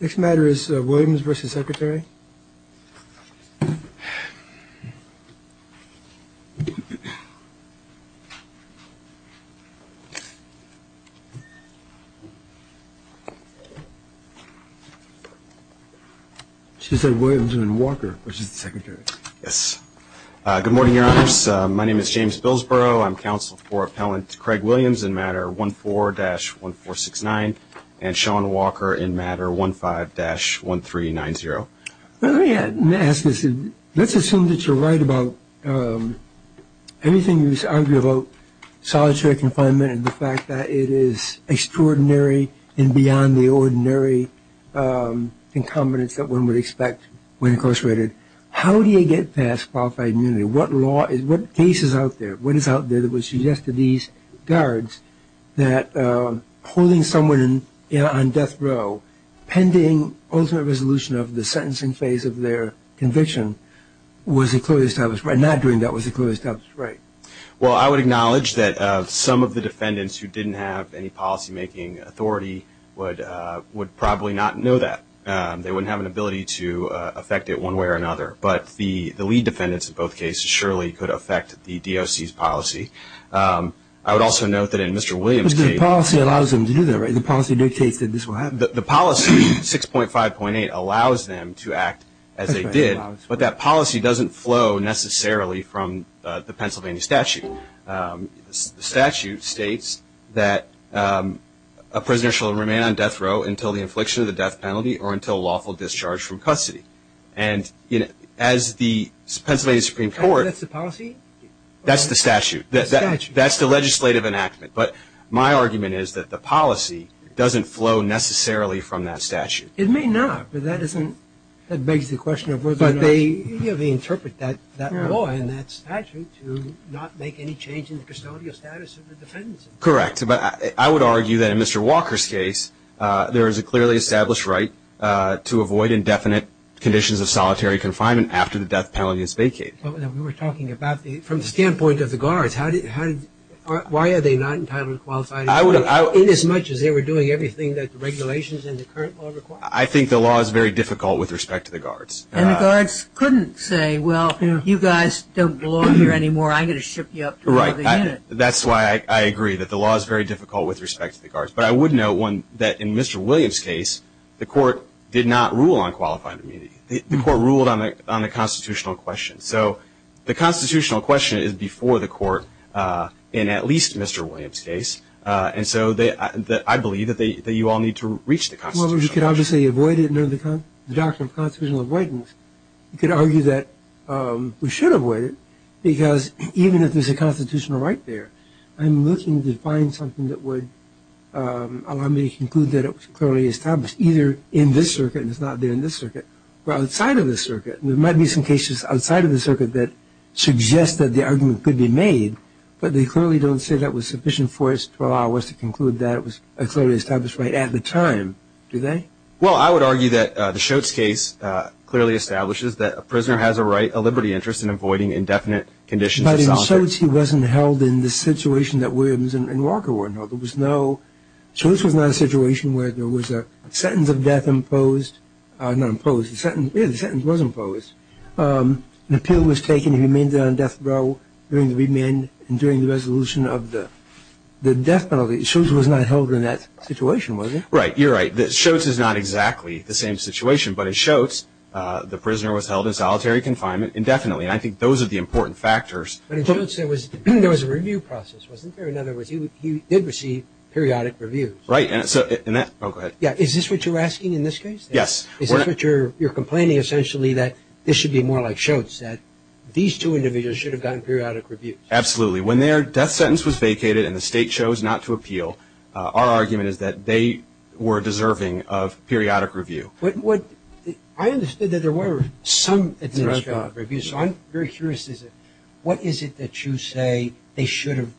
Next matter is Williams v. Secretary She said Williams and Walker, which is the Secretary. Yes. Good morning, Your Honors. My name is James Billsborough. I'm counsel for Appellant Craig Williams in Matter 14-1469 and Sean Walker in Matter 15-1390. Let me ask this. Let's assume that you're right about anything you argue about solitary confinement and the fact that it is extraordinary and beyond the ordinary incumbence that one would expect when incarcerated. How do you get past qualified immunity? What law is, what case is out there, what is out there that would suggest to these guards that holding someone on death row pending ultimate resolution of the sentencing phase of their conviction was a clearly established right? Not doing that was a clearly established right. Well, I would acknowledge that some of the defendants who didn't have any policymaking authority would probably not know that. They wouldn't have an ability to affect it one way or another. But the lead defendants in both cases surely could affect the DOC's policy. I would also note that in Mr. Williams case. But the policy allows them to do that, right? The policy dictates that this will happen. The policy 6.5.8 allows them to act as they did, but that policy doesn't flow necessarily from the Pennsylvania statute. The statute states that a prisoner shall remain on death row until the infliction of the death penalty or until lawful discharge from custody. And as the Pennsylvania Supreme Court. That's the policy? That's the statute. That's the legislative enactment. But my argument is that the policy doesn't flow necessarily from that statute. It may not, but that isn't, that begs the question of whether or not. You have to interpret that law and that statute to not make any change in the custodial status of the defendants. Correct. But I would argue that in Mr. Walker's case, there is a clearly established right to avoid indefinite conditions of solitary confinement after the death penalty is vacated. But we were talking about the, from the standpoint of the guards, how did, why are they not entitled to qualified employment? Inasmuch as they were doing everything that the regulations and the current law require. I think the law is very difficult with respect to the guards. And the guards couldn't say, well, if you guys don't belong here anymore, I'm going to ship you up to another unit. Right. That's why I agree that the law is very difficult with respect to the guards. But I would note one, that in Mr. Williams' case, the court did not rule on qualified immunity. The court ruled on the constitutional question. So the constitutional question is before the court in at least Mr. Williams' case. Well, you could obviously avoid it under the doctrine of constitutional avoidance. You could argue that we should avoid it because even if there's a constitutional right there, I'm looking to find something that would allow me to conclude that it was clearly established, either in this circuit and it's not there in this circuit, or outside of this circuit. And there might be some cases outside of the circuit that suggest that the argument could be made, but they clearly don't say that was sufficient for us to allow us to conclude that it was a clearly established right at the time. Do they? Well, I would argue that the Schultz case clearly establishes that a prisoner has a right, a liberty interest in avoiding indefinite conditions of solitary. But in Schultz he wasn't held in the situation that Williams and Walker were held. There was no ‑‑ Schultz was not in a situation where there was a sentence of death imposed. Not imposed. Yeah, the sentence was imposed. An appeal was taken. He remained on death row during the resolution of the death penalty. Schultz was not held in that situation, was he? Right. You're right. Schultz is not exactly the same situation. But in Schultz, the prisoner was held in solitary confinement indefinitely. And I think those are the important factors. But in Schultz there was a review process, wasn't there? In other words, he did receive periodic reviews. Right. Oh, go ahead. Yeah. Is this what you're asking in this case? Yes. Is this what you're complaining, essentially, that this should be more like Schultz, that these two individuals should have gotten periodic reviews? Absolutely. When their death sentence was vacated and the state chose not to appeal, our argument is that they were deserving of periodic review. I understood that there were some administrative reviews. So I'm very curious. What is it that you say they should have ‑‑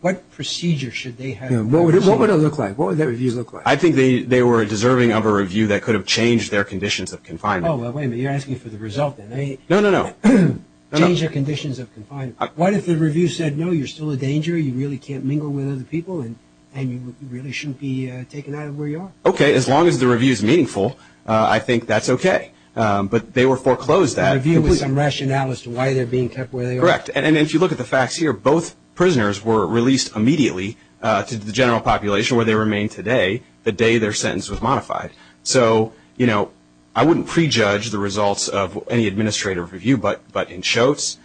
what procedure should they have? What would it look like? What would their reviews look like? I think they were deserving of a review that could have changed their conditions of confinement. Oh, wait a minute. You're asking for the result. No, no, no. Change their conditions of confinement. What if the review said, no, you're still a danger, you really can't mingle with other people, and you really shouldn't be taken out of where you are? Okay, as long as the review is meaningful, I think that's okay. But they were foreclosed that. A review with some rationale as to why they're being kept where they are. Correct. And if you look at the facts here, both prisoners were released immediately to the general population where they remain today, the day their sentence was modified. So, you know, I wouldn't prejudge the results of any administrative review, but in Shotes,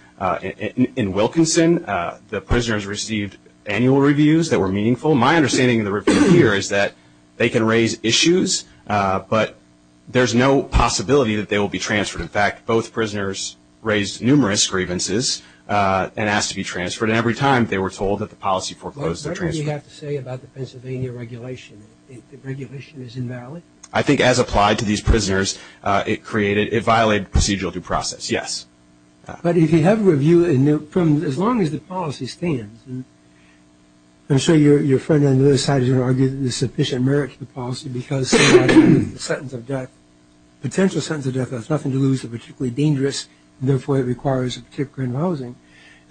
in Wilkinson, the prisoners received annual reviews that were meaningful. My understanding of the review here is that they can raise issues, but there's no possibility that they will be transferred. In fact, both prisoners raised numerous grievances and asked to be transferred, and every time they were told that the policy foreclosed their transfer. What do we have to say about the Pennsylvania regulation? The regulation is invalid? I think as applied to these prisoners, it violated procedural due process, yes. But if you have a review, as long as the policy stands, I'm sure your friend on the other side is going to argue that there's sufficient merit to the policy because the sentence of death, potential sentence of death, there's nothing to lose that's particularly dangerous, and therefore it requires a particular kind of housing.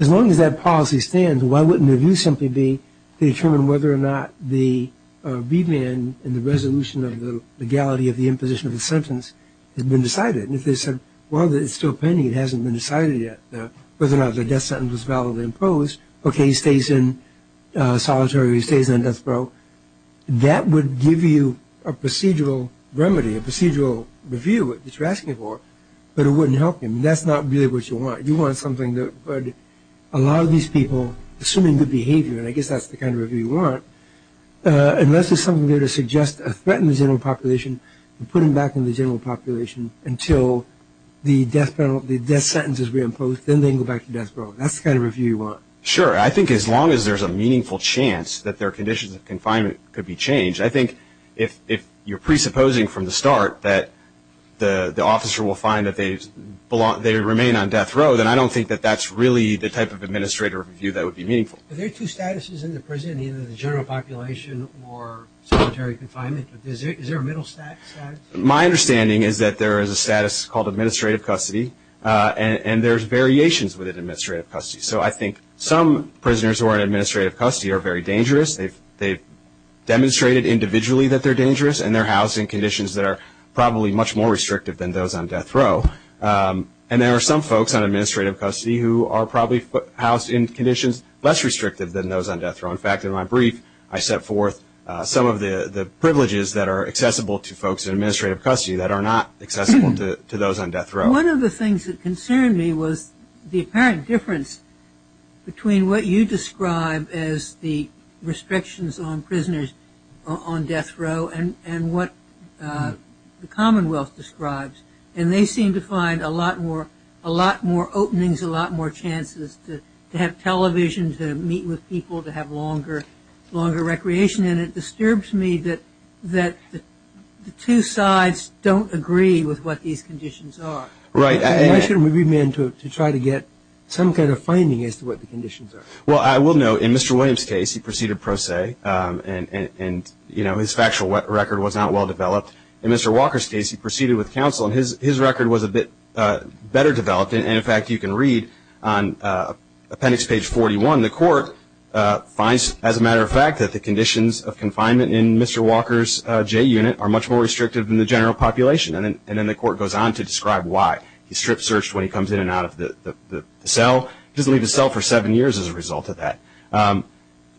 As long as that policy stands, why wouldn't the review simply be to determine whether or not the remand and the resolution of the legality of the imposition of the sentence has been decided? And if they said, well, it's still pending, it hasn't been decided yet, whether or not the death sentence was validly imposed, okay, he stays in solitary, he stays in death row, that would give you a procedural remedy, a procedural review that you're asking for, but it wouldn't help him. That's not really what you want. You want something that would allow these people, assuming good behavior, and I guess that's the kind of review you want, unless there's something there to suggest a threat in the general population and put him back in the general population until the death penalty, the death sentence is reimposed, then they go back to death row. That's the kind of review you want. Sure. I think as long as there's a meaningful chance that their conditions of confinement could be changed. I think if you're presupposing from the start that the officer will find that they remain on death row, then I don't think that that's really the type of administrative review that would be meaningful. Are there two statuses in the prison, either the general population or solitary confinement? Is there a middle status? My understanding is that there is a status called administrative custody, and there's variations within administrative custody. So I think some prisoners who are in administrative custody are very dangerous. They've demonstrated individually that they're dangerous, and they're housed in conditions that are probably much more restrictive than those on death row. And there are some folks on administrative custody who are probably housed in conditions less restrictive than those on death row. In fact, in my brief, I set forth some of the privileges that are accessible to folks in administrative custody that are not accessible to those on death row. One of the things that concerned me was the apparent difference between what you describe as the restrictions on prisoners on death row and what the Commonwealth describes. And they seem to find a lot more openings, a lot more chances to have television, to meet with people, to have longer recreation. And it disturbs me that the two sides don't agree with what these conditions are. Right. Why shouldn't we be meant to try to get some kind of finding as to what the conditions are? Well, I will note, in Mr. Williams' case, he proceeded pro se, and, you know, his factual record was not well developed. In Mr. Walker's case, he proceeded with counsel, and his record was a bit better developed. And, in fact, you can read on appendix page 41, the court finds, as a matter of fact, that the conditions of confinement in Mr. Walker's J unit are much more restrictive than the general population. And then the court goes on to describe why. He's strip searched when he comes in and out of the cell. He doesn't leave the cell for seven years as a result of that.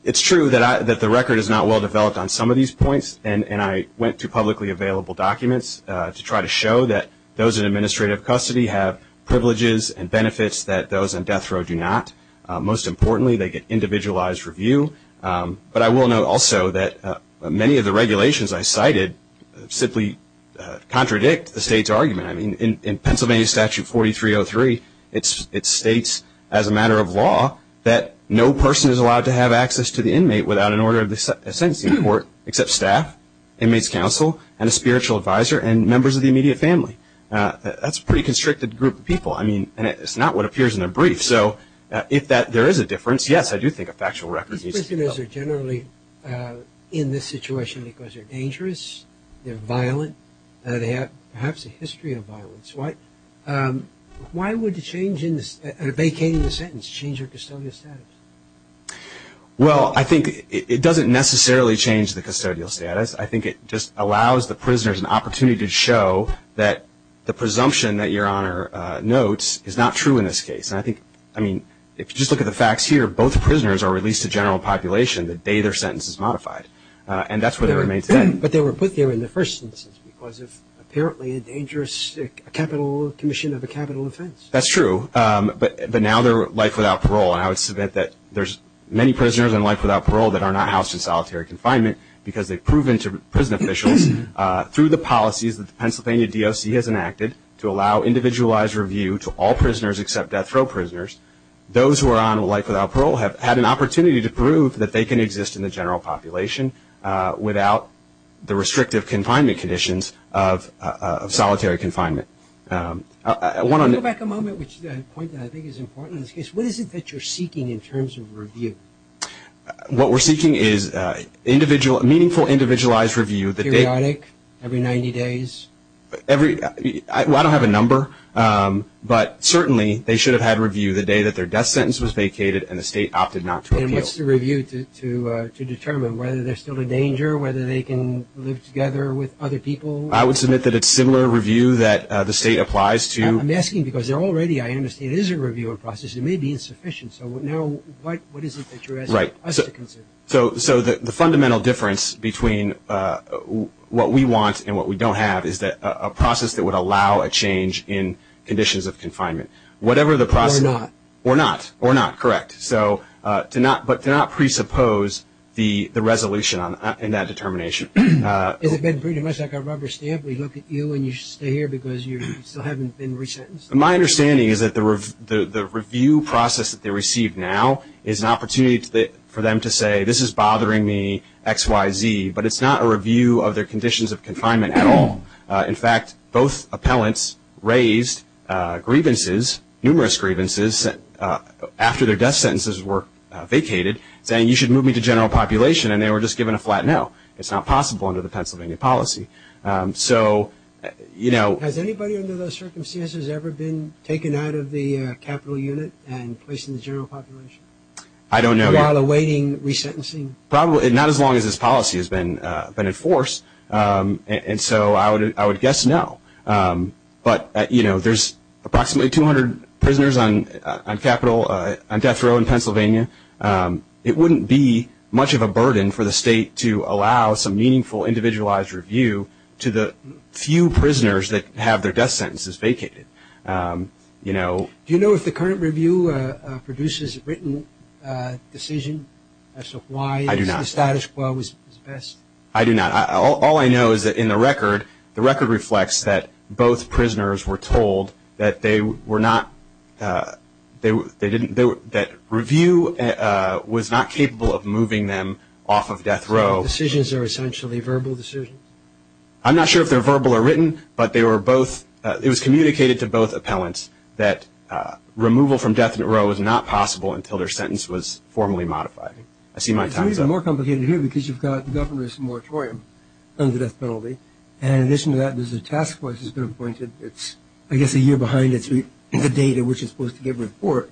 It's true that the record is not well developed on some of these points, and I went to publicly available documents to try to show that those in administrative custody have privileges and benefits that those on death row do not. Most importantly, they get individualized review. But I will note also that many of the regulations I cited simply contradict the state's argument. I mean, in Pennsylvania Statute 4303, it states, as a matter of law, that no person is allowed to have access to the inmate without an order of the sentencing court, except staff, inmates counsel, and a spiritual advisor, and members of the immediate family. That's a pretty constricted group of people. I mean, and it's not what appears in the brief. So if there is a difference, yes, I do think a factual record needs to be developed. These prisoners are generally in this situation because they're dangerous, they're violent, and they have perhaps a history of violence. Why would a vacating the sentence change your custodial status? Well, I think it doesn't necessarily change the custodial status. I think it just allows the prisoners an opportunity to show that the presumption that Your Honor notes is not true in this case. And I think, I mean, if you just look at the facts here, both prisoners are released to general population the day their sentence is modified. And that's where they remain today. But they were put there in the first instance because of apparently a dangerous capital commission of a capital offense. That's true. But now they're life without parole, and I would submit that there's many prisoners in life without parole that are not housed in solitary confinement because they've proven to prison officials through the policies that the Pennsylvania DOC has enacted to allow individualized review to all prisoners except death row prisoners. Those who are on life without parole have had an opportunity to prove that they can exist in the general population without the restrictive confinement conditions of solitary confinement. Let me go back a moment, which is a point that I think is important in this case. What is it that you're seeking in terms of review? What we're seeking is meaningful individualized review. Periodic? Every 90 days? Well, I don't have a number, but certainly they should have had review the day that their death sentence was vacated and the state opted not to appeal. And what's the review to determine? Whether they're still in danger, whether they can live together with other people? I would submit that it's similar review that the state applies to. I'm asking because there already, I understand, is a review process. It may be insufficient. So now what is it that you're asking us to consider? So the fundamental difference between what we want and what we don't have is a process that would allow a change in conditions of confinement. Or not. Or not. Or not, correct. But to not presuppose the resolution in that determination. Has it been pretty much like a rubber stamp? We look at you and you stay here because you still haven't been resentenced? My understanding is that the review process that they receive now is an opportunity for them to say, this is bothering me X, Y, Z. But it's not a review of their conditions of confinement at all. In fact, both appellants raised grievances, numerous grievances, after their death sentences were vacated saying you should move me to general population and they were just given a flat no. It's not possible under the Pennsylvania policy. So, you know. Has anybody under those circumstances ever been taken out of the capital unit and placed in the general population? I don't know. While awaiting resentencing? Probably not as long as this policy has been enforced. And so I would guess no. But, you know, there's approximately 200 prisoners on death row in Pennsylvania. It wouldn't be much of a burden for the state to allow some meaningful individualized review to the few prisoners that have their death sentences vacated. You know. Do you know if the current review produces a written decision as to why the status quo is best? I do not. All I know is that in the record, the record reflects that both prisoners were told that they were not, that review was not capable of moving them off of death row. Decisions are essentially verbal decisions? I'm not sure if they're verbal or written, but they were both, it was communicated to both appellants that removal from death row was not possible until their sentence was formally modified. I see my time's up. It's even more complicated here because you've got the governor's moratorium on the death penalty. And in addition to that, there's a task force that's been appointed. It's, I guess, a year behind the date at which it's supposed to give a report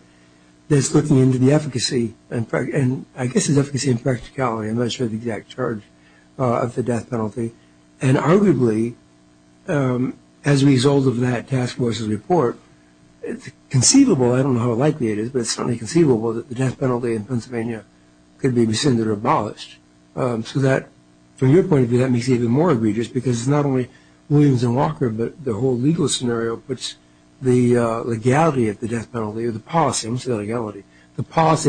that's looking into the efficacy and I guess it's efficacy and practicality. I'm not sure of the exact charge of the death penalty. And arguably, as a result of that task force's report, it's conceivable, I don't know how likely it is, but it's certainly conceivable that the death penalty in Pennsylvania could be rescinded or abolished. So that, from your point of view, that makes it even more egregious because it's not only Williams and Walker but the whole legal scenario puts the legality of the death penalty, the policy of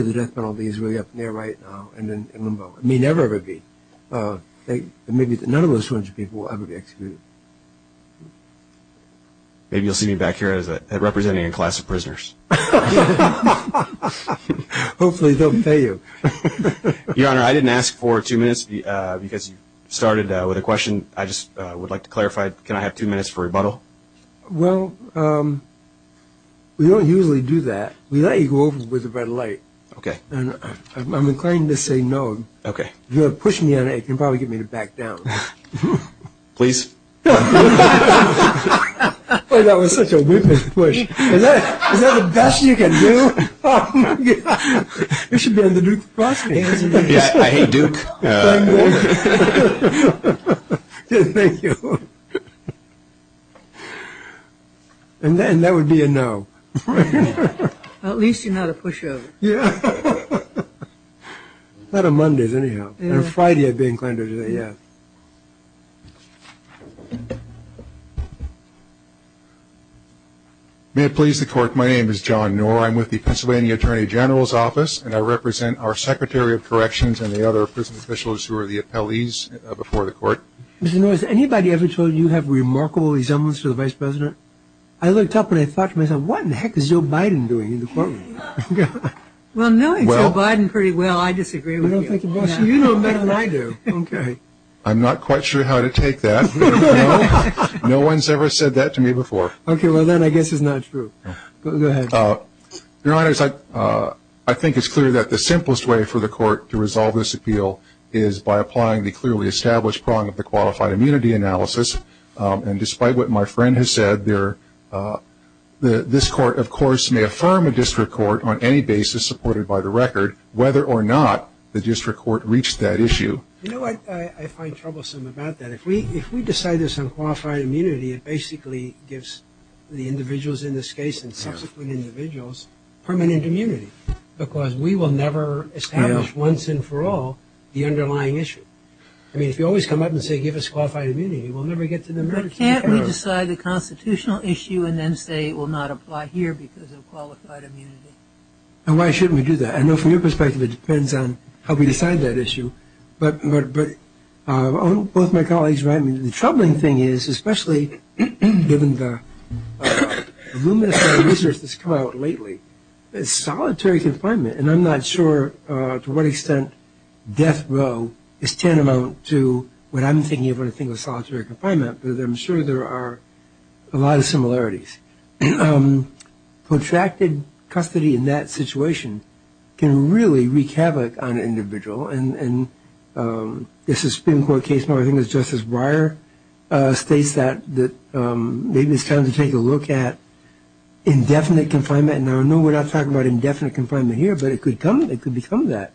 the death penalty is really up in the air right now and in limbo. It may never ever be. None of those 200 people will ever be executed. Maybe you'll see me back here representing a class of prisoners. Hopefully they'll pay you. Your Honor, I didn't ask for two minutes because you started with a question. I just would like to clarify, can I have two minutes for rebuttal? Well, we don't usually do that. We let you go over with a red light. Okay. And I'm inclined to say no. Okay. If you're going to push me on it, you can probably get me to back down. Please. Boy, that was such a whippin' push. Is that the best you can do? You should be on the Duke Prosecution. I hate Duke. Thank you. And that would be a no. At least you're not a pushover. Yeah. Not on Mondays anyhow. On Friday I'd be inclined to say yes. May it please the Court, my name is John Noor. I'm with the Pennsylvania Attorney General's Office, and I represent our Secretary of Corrections and the other prison officials who are the appellees before the Court. Mr. Noor, has anybody ever told you you have remarkable resemblance to the Vice President? I looked up and I thought to myself, what in the heck is Joe Biden doing in the courtroom? Well, knowing Joe Biden pretty well, I disagree with you. You know better than I do. Okay. I'm not quite sure how to take that. No one's ever said that to me before. Okay, well then I guess it's not true. Go ahead. Your Honors, I think it's clear that the simplest way for the Court to resolve this appeal is by applying the clearly established prong of the qualified immunity analysis. And despite what my friend has said, this Court, of course, may affirm a district court on any basis supported by the record, whether or not the district court reached that issue. You know what I find troublesome about that? If we decide this on qualified immunity, it basically gives the individuals in this case and subsequent individuals permanent immunity because we will never establish once and for all the underlying issue. I mean, if you always come up and say give us qualified immunity, we'll never get to the merits. But can't we decide the constitutional issue and then say it will not apply here because of qualified immunity? And why shouldn't we do that? I know from your perspective it depends on how we decide that issue. But both my colleagues are right. The troubling thing is, especially given the luminous research that's come out lately, solitary confinement, and I'm not sure to what extent death row is tantamount to what I'm thinking of when I think of solitary confinement, but I'm sure there are a lot of similarities. Contracted custody in that situation can really wreak havoc on an individual. And this Supreme Court case, I think it was Justice Breyer, states that maybe it's time to take a look at indefinite confinement. Now, I know we're not talking about indefinite confinement here, but it could become that.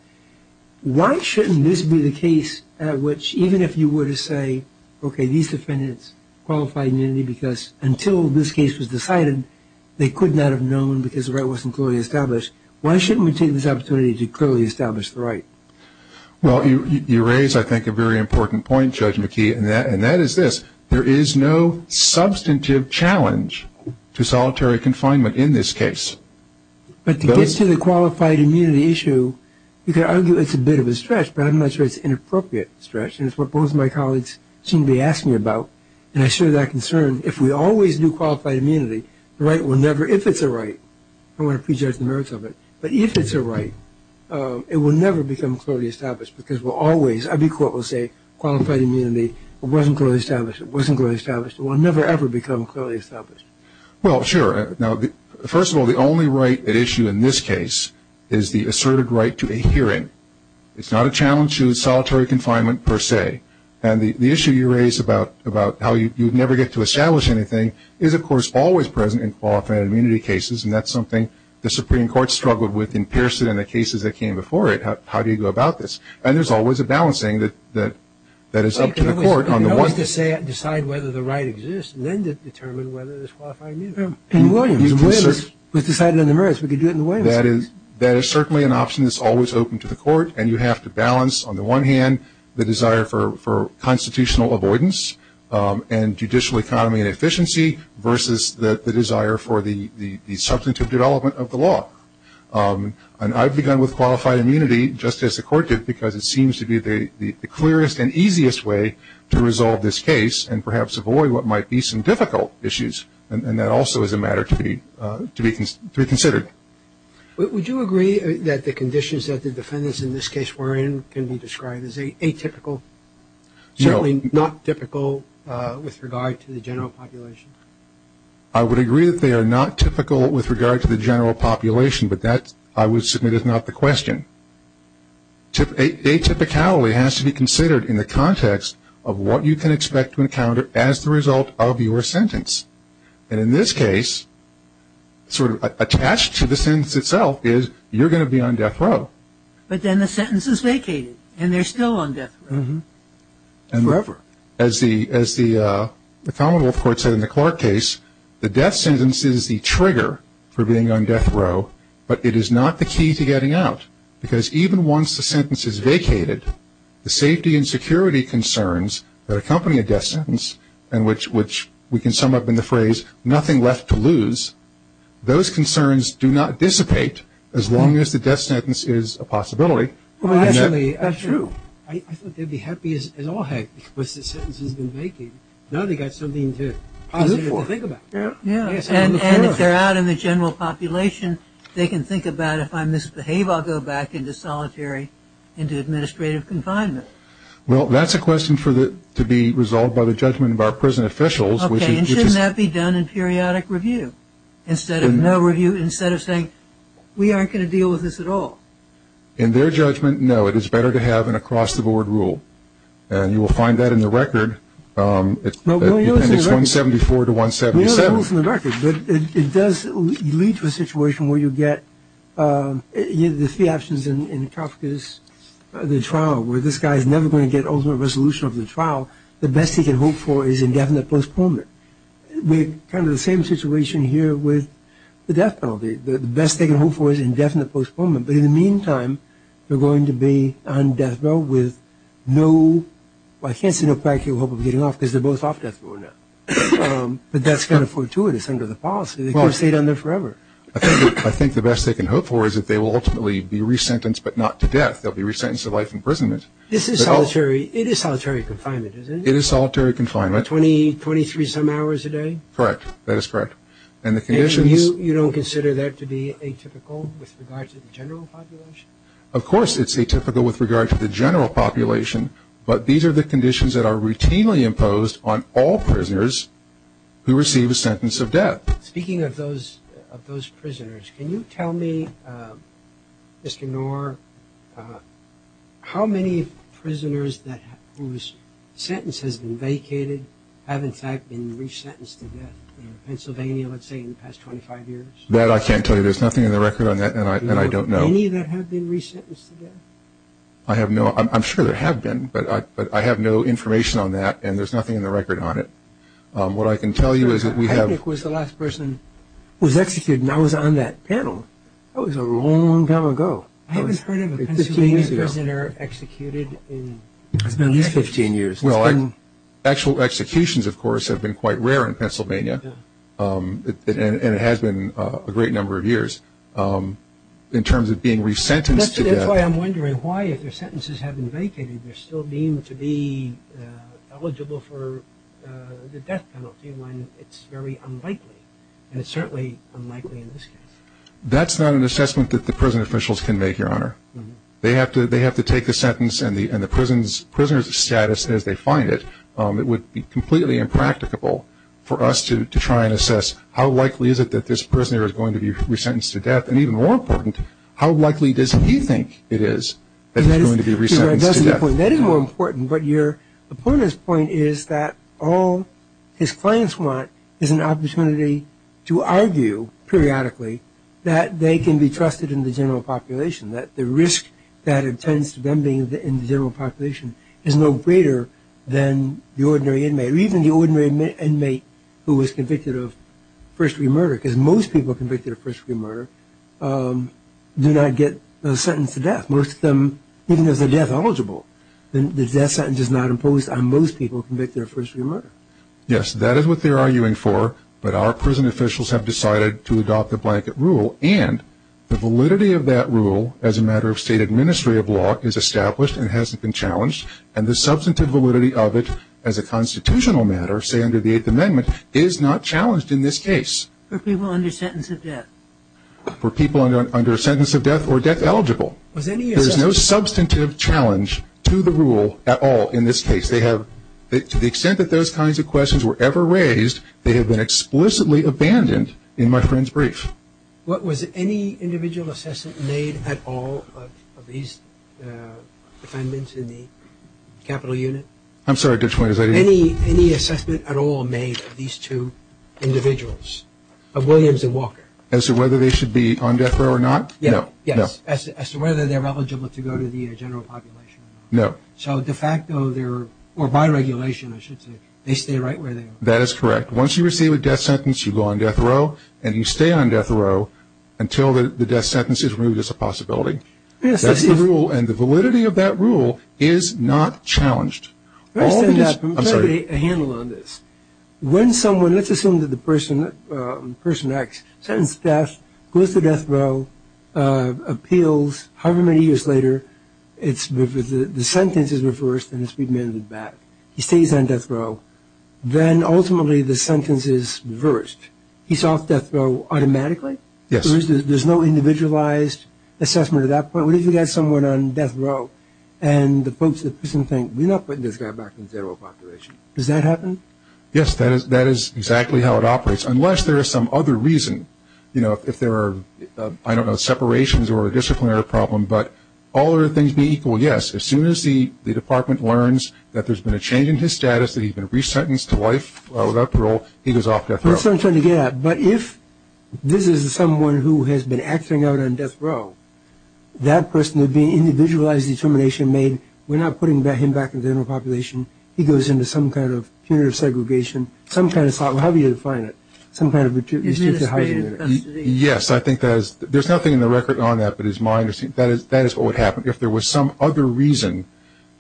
Why shouldn't this be the case at which even if you were to say, okay, these defendants qualified immunity because until this case was decided, they could not have known because the right wasn't clearly established. Why shouldn't we take this opportunity to clearly establish the right? Well, you raise, I think, a very important point, Judge McKee, and that is this. There is no substantive challenge to solitary confinement in this case. But to get to the qualified immunity issue, you could argue it's a bit of a stretch, but I'm not sure it's an inappropriate stretch. And it's what both of my colleagues seem to be asking about. And I share that concern. If we always do qualified immunity, the right will never, if it's a right, I don't want to prejudge the merits of it, but if it's a right, it will never become clearly established because we'll always, every court will say qualified immunity, it wasn't clearly established, it wasn't clearly established, it will never, ever become clearly established. Well, sure. Now, first of all, the only right at issue in this case is the asserted right to a hearing. It's not a challenge to solitary confinement per se. And the issue you raise about how you never get to establish anything is, of course, always present in qualified immunity cases, and that's something the Supreme Court struggled with in Pearson and the cases that came before it, how do you go about this? And there's always a balancing that is up to the court on the one thing. But you can always decide whether the right exists and then determine whether there's qualified immunity. In Williams, it was decided on the merits, we could do it in the Williams case. That is certainly an option that's always open to the court, and you have to balance on the one hand the desire for constitutional avoidance and judicial economy and efficiency versus the desire for the substantive development of the law. And I've begun with qualified immunity, just as the court did, because it seems to be the clearest and easiest way to resolve this case and perhaps avoid what might be some difficult issues, and that also is a matter to be considered. Would you agree that the conditions that the defendants in this case were in can be described as atypical, certainly not typical with regard to the general population? I would agree that they are not typical with regard to the general population, but that, I would submit, is not the question. Atypicality has to be considered in the context of what you can expect to encounter as the result of your sentence. And in this case, sort of attached to the sentence itself is you're going to be on death row. But then the sentence is vacated, and they're still on death row. Forever. As the common law court said in the Clark case, the death sentence is the trigger for being on death row, but it is not the key to getting out, because even once the sentence is vacated, the safety and security concerns that accompany a death sentence, and which we can sum up in the phrase nothing left to lose, those concerns do not dissipate as long as the death sentence is a possibility. Well, actually, that's true. I thought they'd be happy as all heck once the sentence has been vacated. Now they've got something positive to think about. Yeah. And if they're out in the general population, they can think about if I misbehave, I'll go back into solitary, into administrative confinement. Well, that's a question to be resolved by the judgment of our prison officials. Okay. And shouldn't that be done in periodic review instead of saying we aren't going to deal with this at all? In their judgment, no. It is better to have an across-the-board rule, and you will find that in the record. It's 174 to 177. It's in the record, but it does lead to a situation where you get the three options in the trial, where this guy is never going to get ultimate resolution of the trial. The best he can hope for is indefinite postponement. We're kind of in the same situation here with the death penalty. The best they can hope for is indefinite postponement. But in the meantime, they're going to be on death row with no – because they're both off death row now. But that's kind of fortuitous under the policy. They can't stay down there forever. I think the best they can hope for is that they will ultimately be resentenced, but not to death. They'll be resentenced to life imprisonment. This is solitary – it is solitary confinement, isn't it? It is solitary confinement. Twenty-three-some hours a day? Correct. That is correct. And the conditions – And you don't consider that to be atypical with regard to the general population? Of course it's atypical with regard to the general population, but these are the conditions that are routinely imposed on all prisoners who receive a sentence of death. Speaking of those prisoners, can you tell me, Mr. Knorr, how many prisoners whose sentence has been vacated have, in fact, been resentenced to death in Pennsylvania, let's say, in the past 25 years? That I can't tell you. There's nothing in the record on that, and I don't know. Any that have been resentenced to death? I have no – I'm sure there have been, but I have no information on that, and there's nothing in the record on it. What I can tell you is that we have – I think it was the last person who was executed, and I was on that panel. That was a long time ago. I haven't heard of a Pennsylvania prisoner executed in at least 15 years. Well, actual executions, of course, have been quite rare in Pennsylvania, and it has been a great number of years. In terms of being resentenced to death. That's why I'm wondering why, if their sentences have been vacated, they're still deemed to be eligible for the death penalty when it's very unlikely, and it's certainly unlikely in this case. That's not an assessment that the prison officials can make, Your Honor. They have to take the sentence and the prisoner's status as they find it. How likely is it that this prisoner is going to be resentenced to death? And even more important, how likely does he think it is that he's going to be resentenced to death? That is more important, but your opponent's point is that all his clients want is an opportunity to argue, periodically, that they can be trusted in the general population, that the risk that attends to them being in the general population is no greater than the ordinary inmate, or even the ordinary inmate who was convicted of first-degree murder, because most people convicted of first-degree murder do not get a sentence to death. Most of them, even if they're death eligible, the death sentence is not imposed on most people convicted of first-degree murder. Yes, that is what they're arguing for, but our prison officials have decided to adopt the blanket rule, and the validity of that rule as a matter of state administry of law is established and hasn't been challenged, and the substantive validity of it as a constitutional matter, say under the Eighth Amendment, is not challenged in this case. For people under sentence of death? For people under sentence of death or death eligible. There's no substantive challenge to the rule at all in this case. To the extent that those kinds of questions were ever raised, they have been explicitly abandoned in my friend's brief. What was any individual assessment made at all of these defendants in the capital unit? I'm sorry. Any assessment at all made of these two individuals, of Williams and Walker? As to whether they should be on death row or not? Yes. As to whether they're eligible to go to the general population or not? No. So de facto, or by regulation, I should say, they stay right where they are. That is correct. Once you receive a death sentence, you go on death row, and you stay on death row until the death sentence is removed as a possibility. That's the rule, and the validity of that rule is not challenged. I understand that, but let me get a handle on this. When someone, let's assume that the person acts, sentence of death, goes to death row, appeals, however many years later, the sentence is reversed and it's remanded back. He stays on death row. Then, ultimately, the sentence is reversed. He's off death row automatically? Yes. There's no individualized assessment at that point? What if you had someone on death row and the person thinks, we're not putting this guy back in the general population? Does that happen? Yes, that is exactly how it operates, unless there is some other reason. You know, if there are, I don't know, separations or a disciplinary problem, but all other things be equal, yes. As soon as the department learns that there's been a change in his status, that he's been resentenced to life without parole, he goes off death row. But if this is someone who has been acting out on death row, that person would be an individualized determination made, we're not putting him back in the general population. He goes into some kind of punitive segregation, some kind of, how do you define it? Some kind of restrictive housing. Yes, I think there's nothing in the record on that, but that is what would happen. If there was some other reason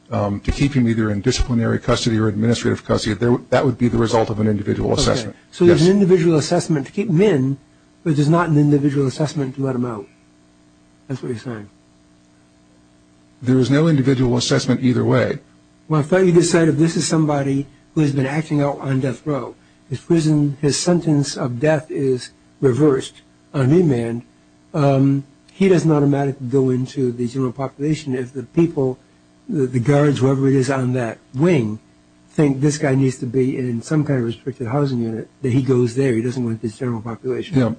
to keep him either in disciplinary custody or administrative custody, that would be the result of an individual assessment. Okay. So there's an individual assessment to keep him in, but there's not an individual assessment to let him out. That's what you're saying. There is no individual assessment either way. Well, if you decide this is somebody who has been acting out on death row, his sentence of death is reversed on remand, he does not automatically go into the general population. If the people, the guards, whoever it is on that wing, think this guy needs to be in some kind of restricted housing unit, that he goes there. He doesn't go into the general population.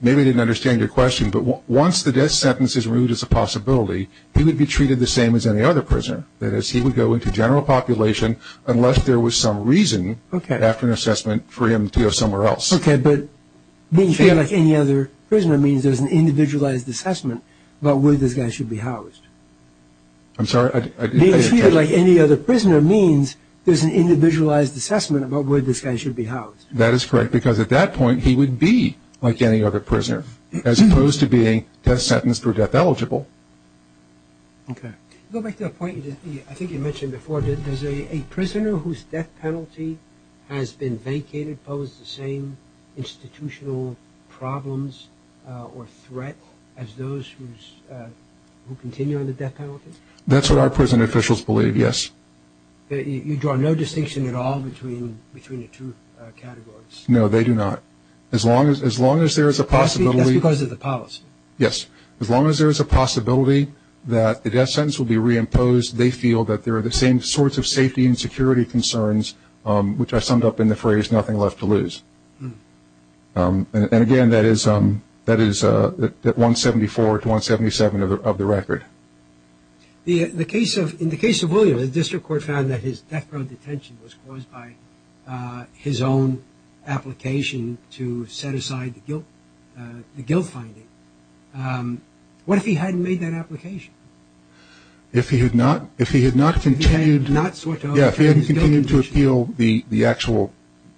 Maybe I didn't understand your question, but once the death sentence is removed as a possibility, he would be treated the same as any other prisoner. That is, he would go into general population unless there was some reason, after an assessment, for him to go somewhere else. Okay, but being treated like any other prisoner means there's an individualized assessment about where this guy should be housed. I'm sorry. Being treated like any other prisoner means there's an individualized assessment about where this guy should be housed. That is correct, because at that point he would be like any other prisoner, as opposed to being death sentenced or death eligible. Okay. Going back to the point I think you mentioned before, does a prisoner whose death penalty has been vacated pose the same institutional problems or threat as those who continue on the death penalty? That's what our prison officials believe, yes. You draw no distinction at all between the two categories. No, they do not. As long as there is a possibility. That's because of the policy. Yes. As long as there is a possibility that the death sentence will be reimposed, they feel that there are the same sorts of safety and security concerns, which I summed up in the phrase, nothing left to lose. And, again, that is 174 to 177 of the record. In the case of William, the district court found that his death row detention was caused by his own application to set aside the guilt finding. What if he hadn't made that application? If he had not continued to appeal the actual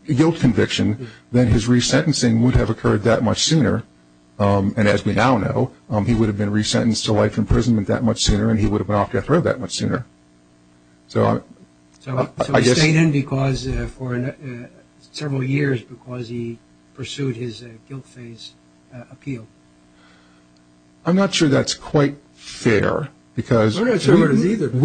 guilt conviction, then his resentencing would have occurred that much sooner. And, as we now know, he would have been resentenced to life imprisonment that much sooner and he would have been off death row that much sooner. So he stayed in for several years because he pursued his guilt phase appeal. I'm not sure that's quite fair because we didn't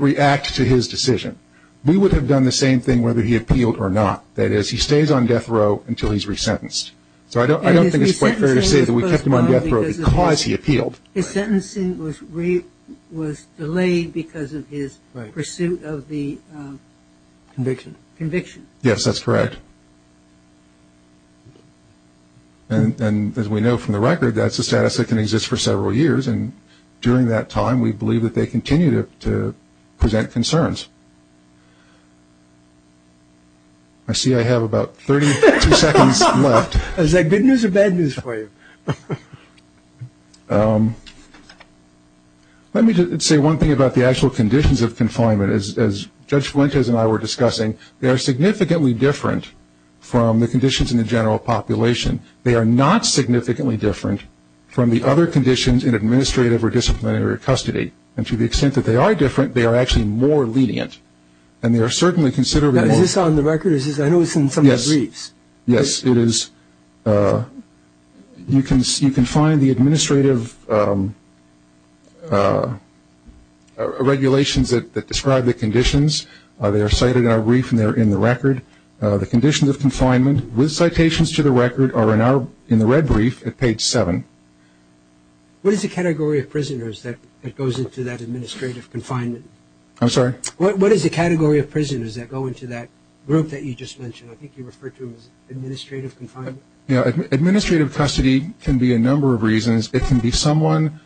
react to his decision. We would have done the same thing whether he appealed or not. That is, he stays on death row until he's resentenced. So I don't think it's quite fair to say that we kept him on death row because he appealed. His sentencing was delayed because of his pursuit of the conviction. Yes, that's correct. And, as we know from the record, that's a status that can exist for several years, and during that time we believe that they continue to present concerns. I see I have about 30 seconds left. Is that good news or bad news for you? Let me just say one thing about the actual conditions of confinement. As Judge Fuentes and I were discussing, they are significantly different from the conditions in the general population. They are not significantly different from the other conditions in administrative or disciplinary custody. And to the extent that they are different, they are actually more lenient. And they are certainly considerably more. Is this on the record? I know it's in some of the briefs. Yes, it is. You can find the administrative regulations that describe the conditions. They are cited in our brief and they are in the record. The conditions of confinement with citations to the record are in the red brief at page 7. What is the category of prisoners that goes into that administrative confinement? I'm sorry? What is the category of prisoners that go into that group that you just mentioned? I think you referred to them as administrative confinement. Administrative custody can be a number of reasons. It can be someone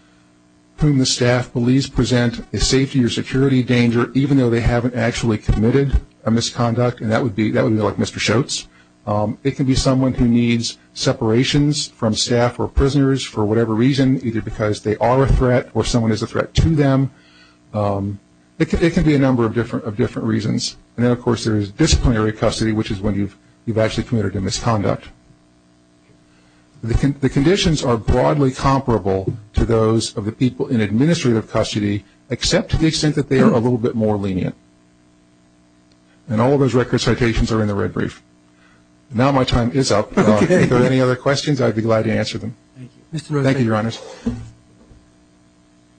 whom the staff believes present a safety or security danger even though they haven't actually committed a misconduct, and that would be like Mr. Schultz. It can be someone who needs separations from staff or prisoners for whatever reason, either because they are a threat or someone is a threat to them. It can be a number of different reasons. And then, of course, there is disciplinary custody, which is when you've actually committed a misconduct. The conditions are broadly comparable to those of the people in administrative custody, except to the extent that they are a little bit more lenient. And all of those record citations are in the red brief. Now my time is up. If there are any other questions, I'd be glad to answer them. Thank you, Your Honors.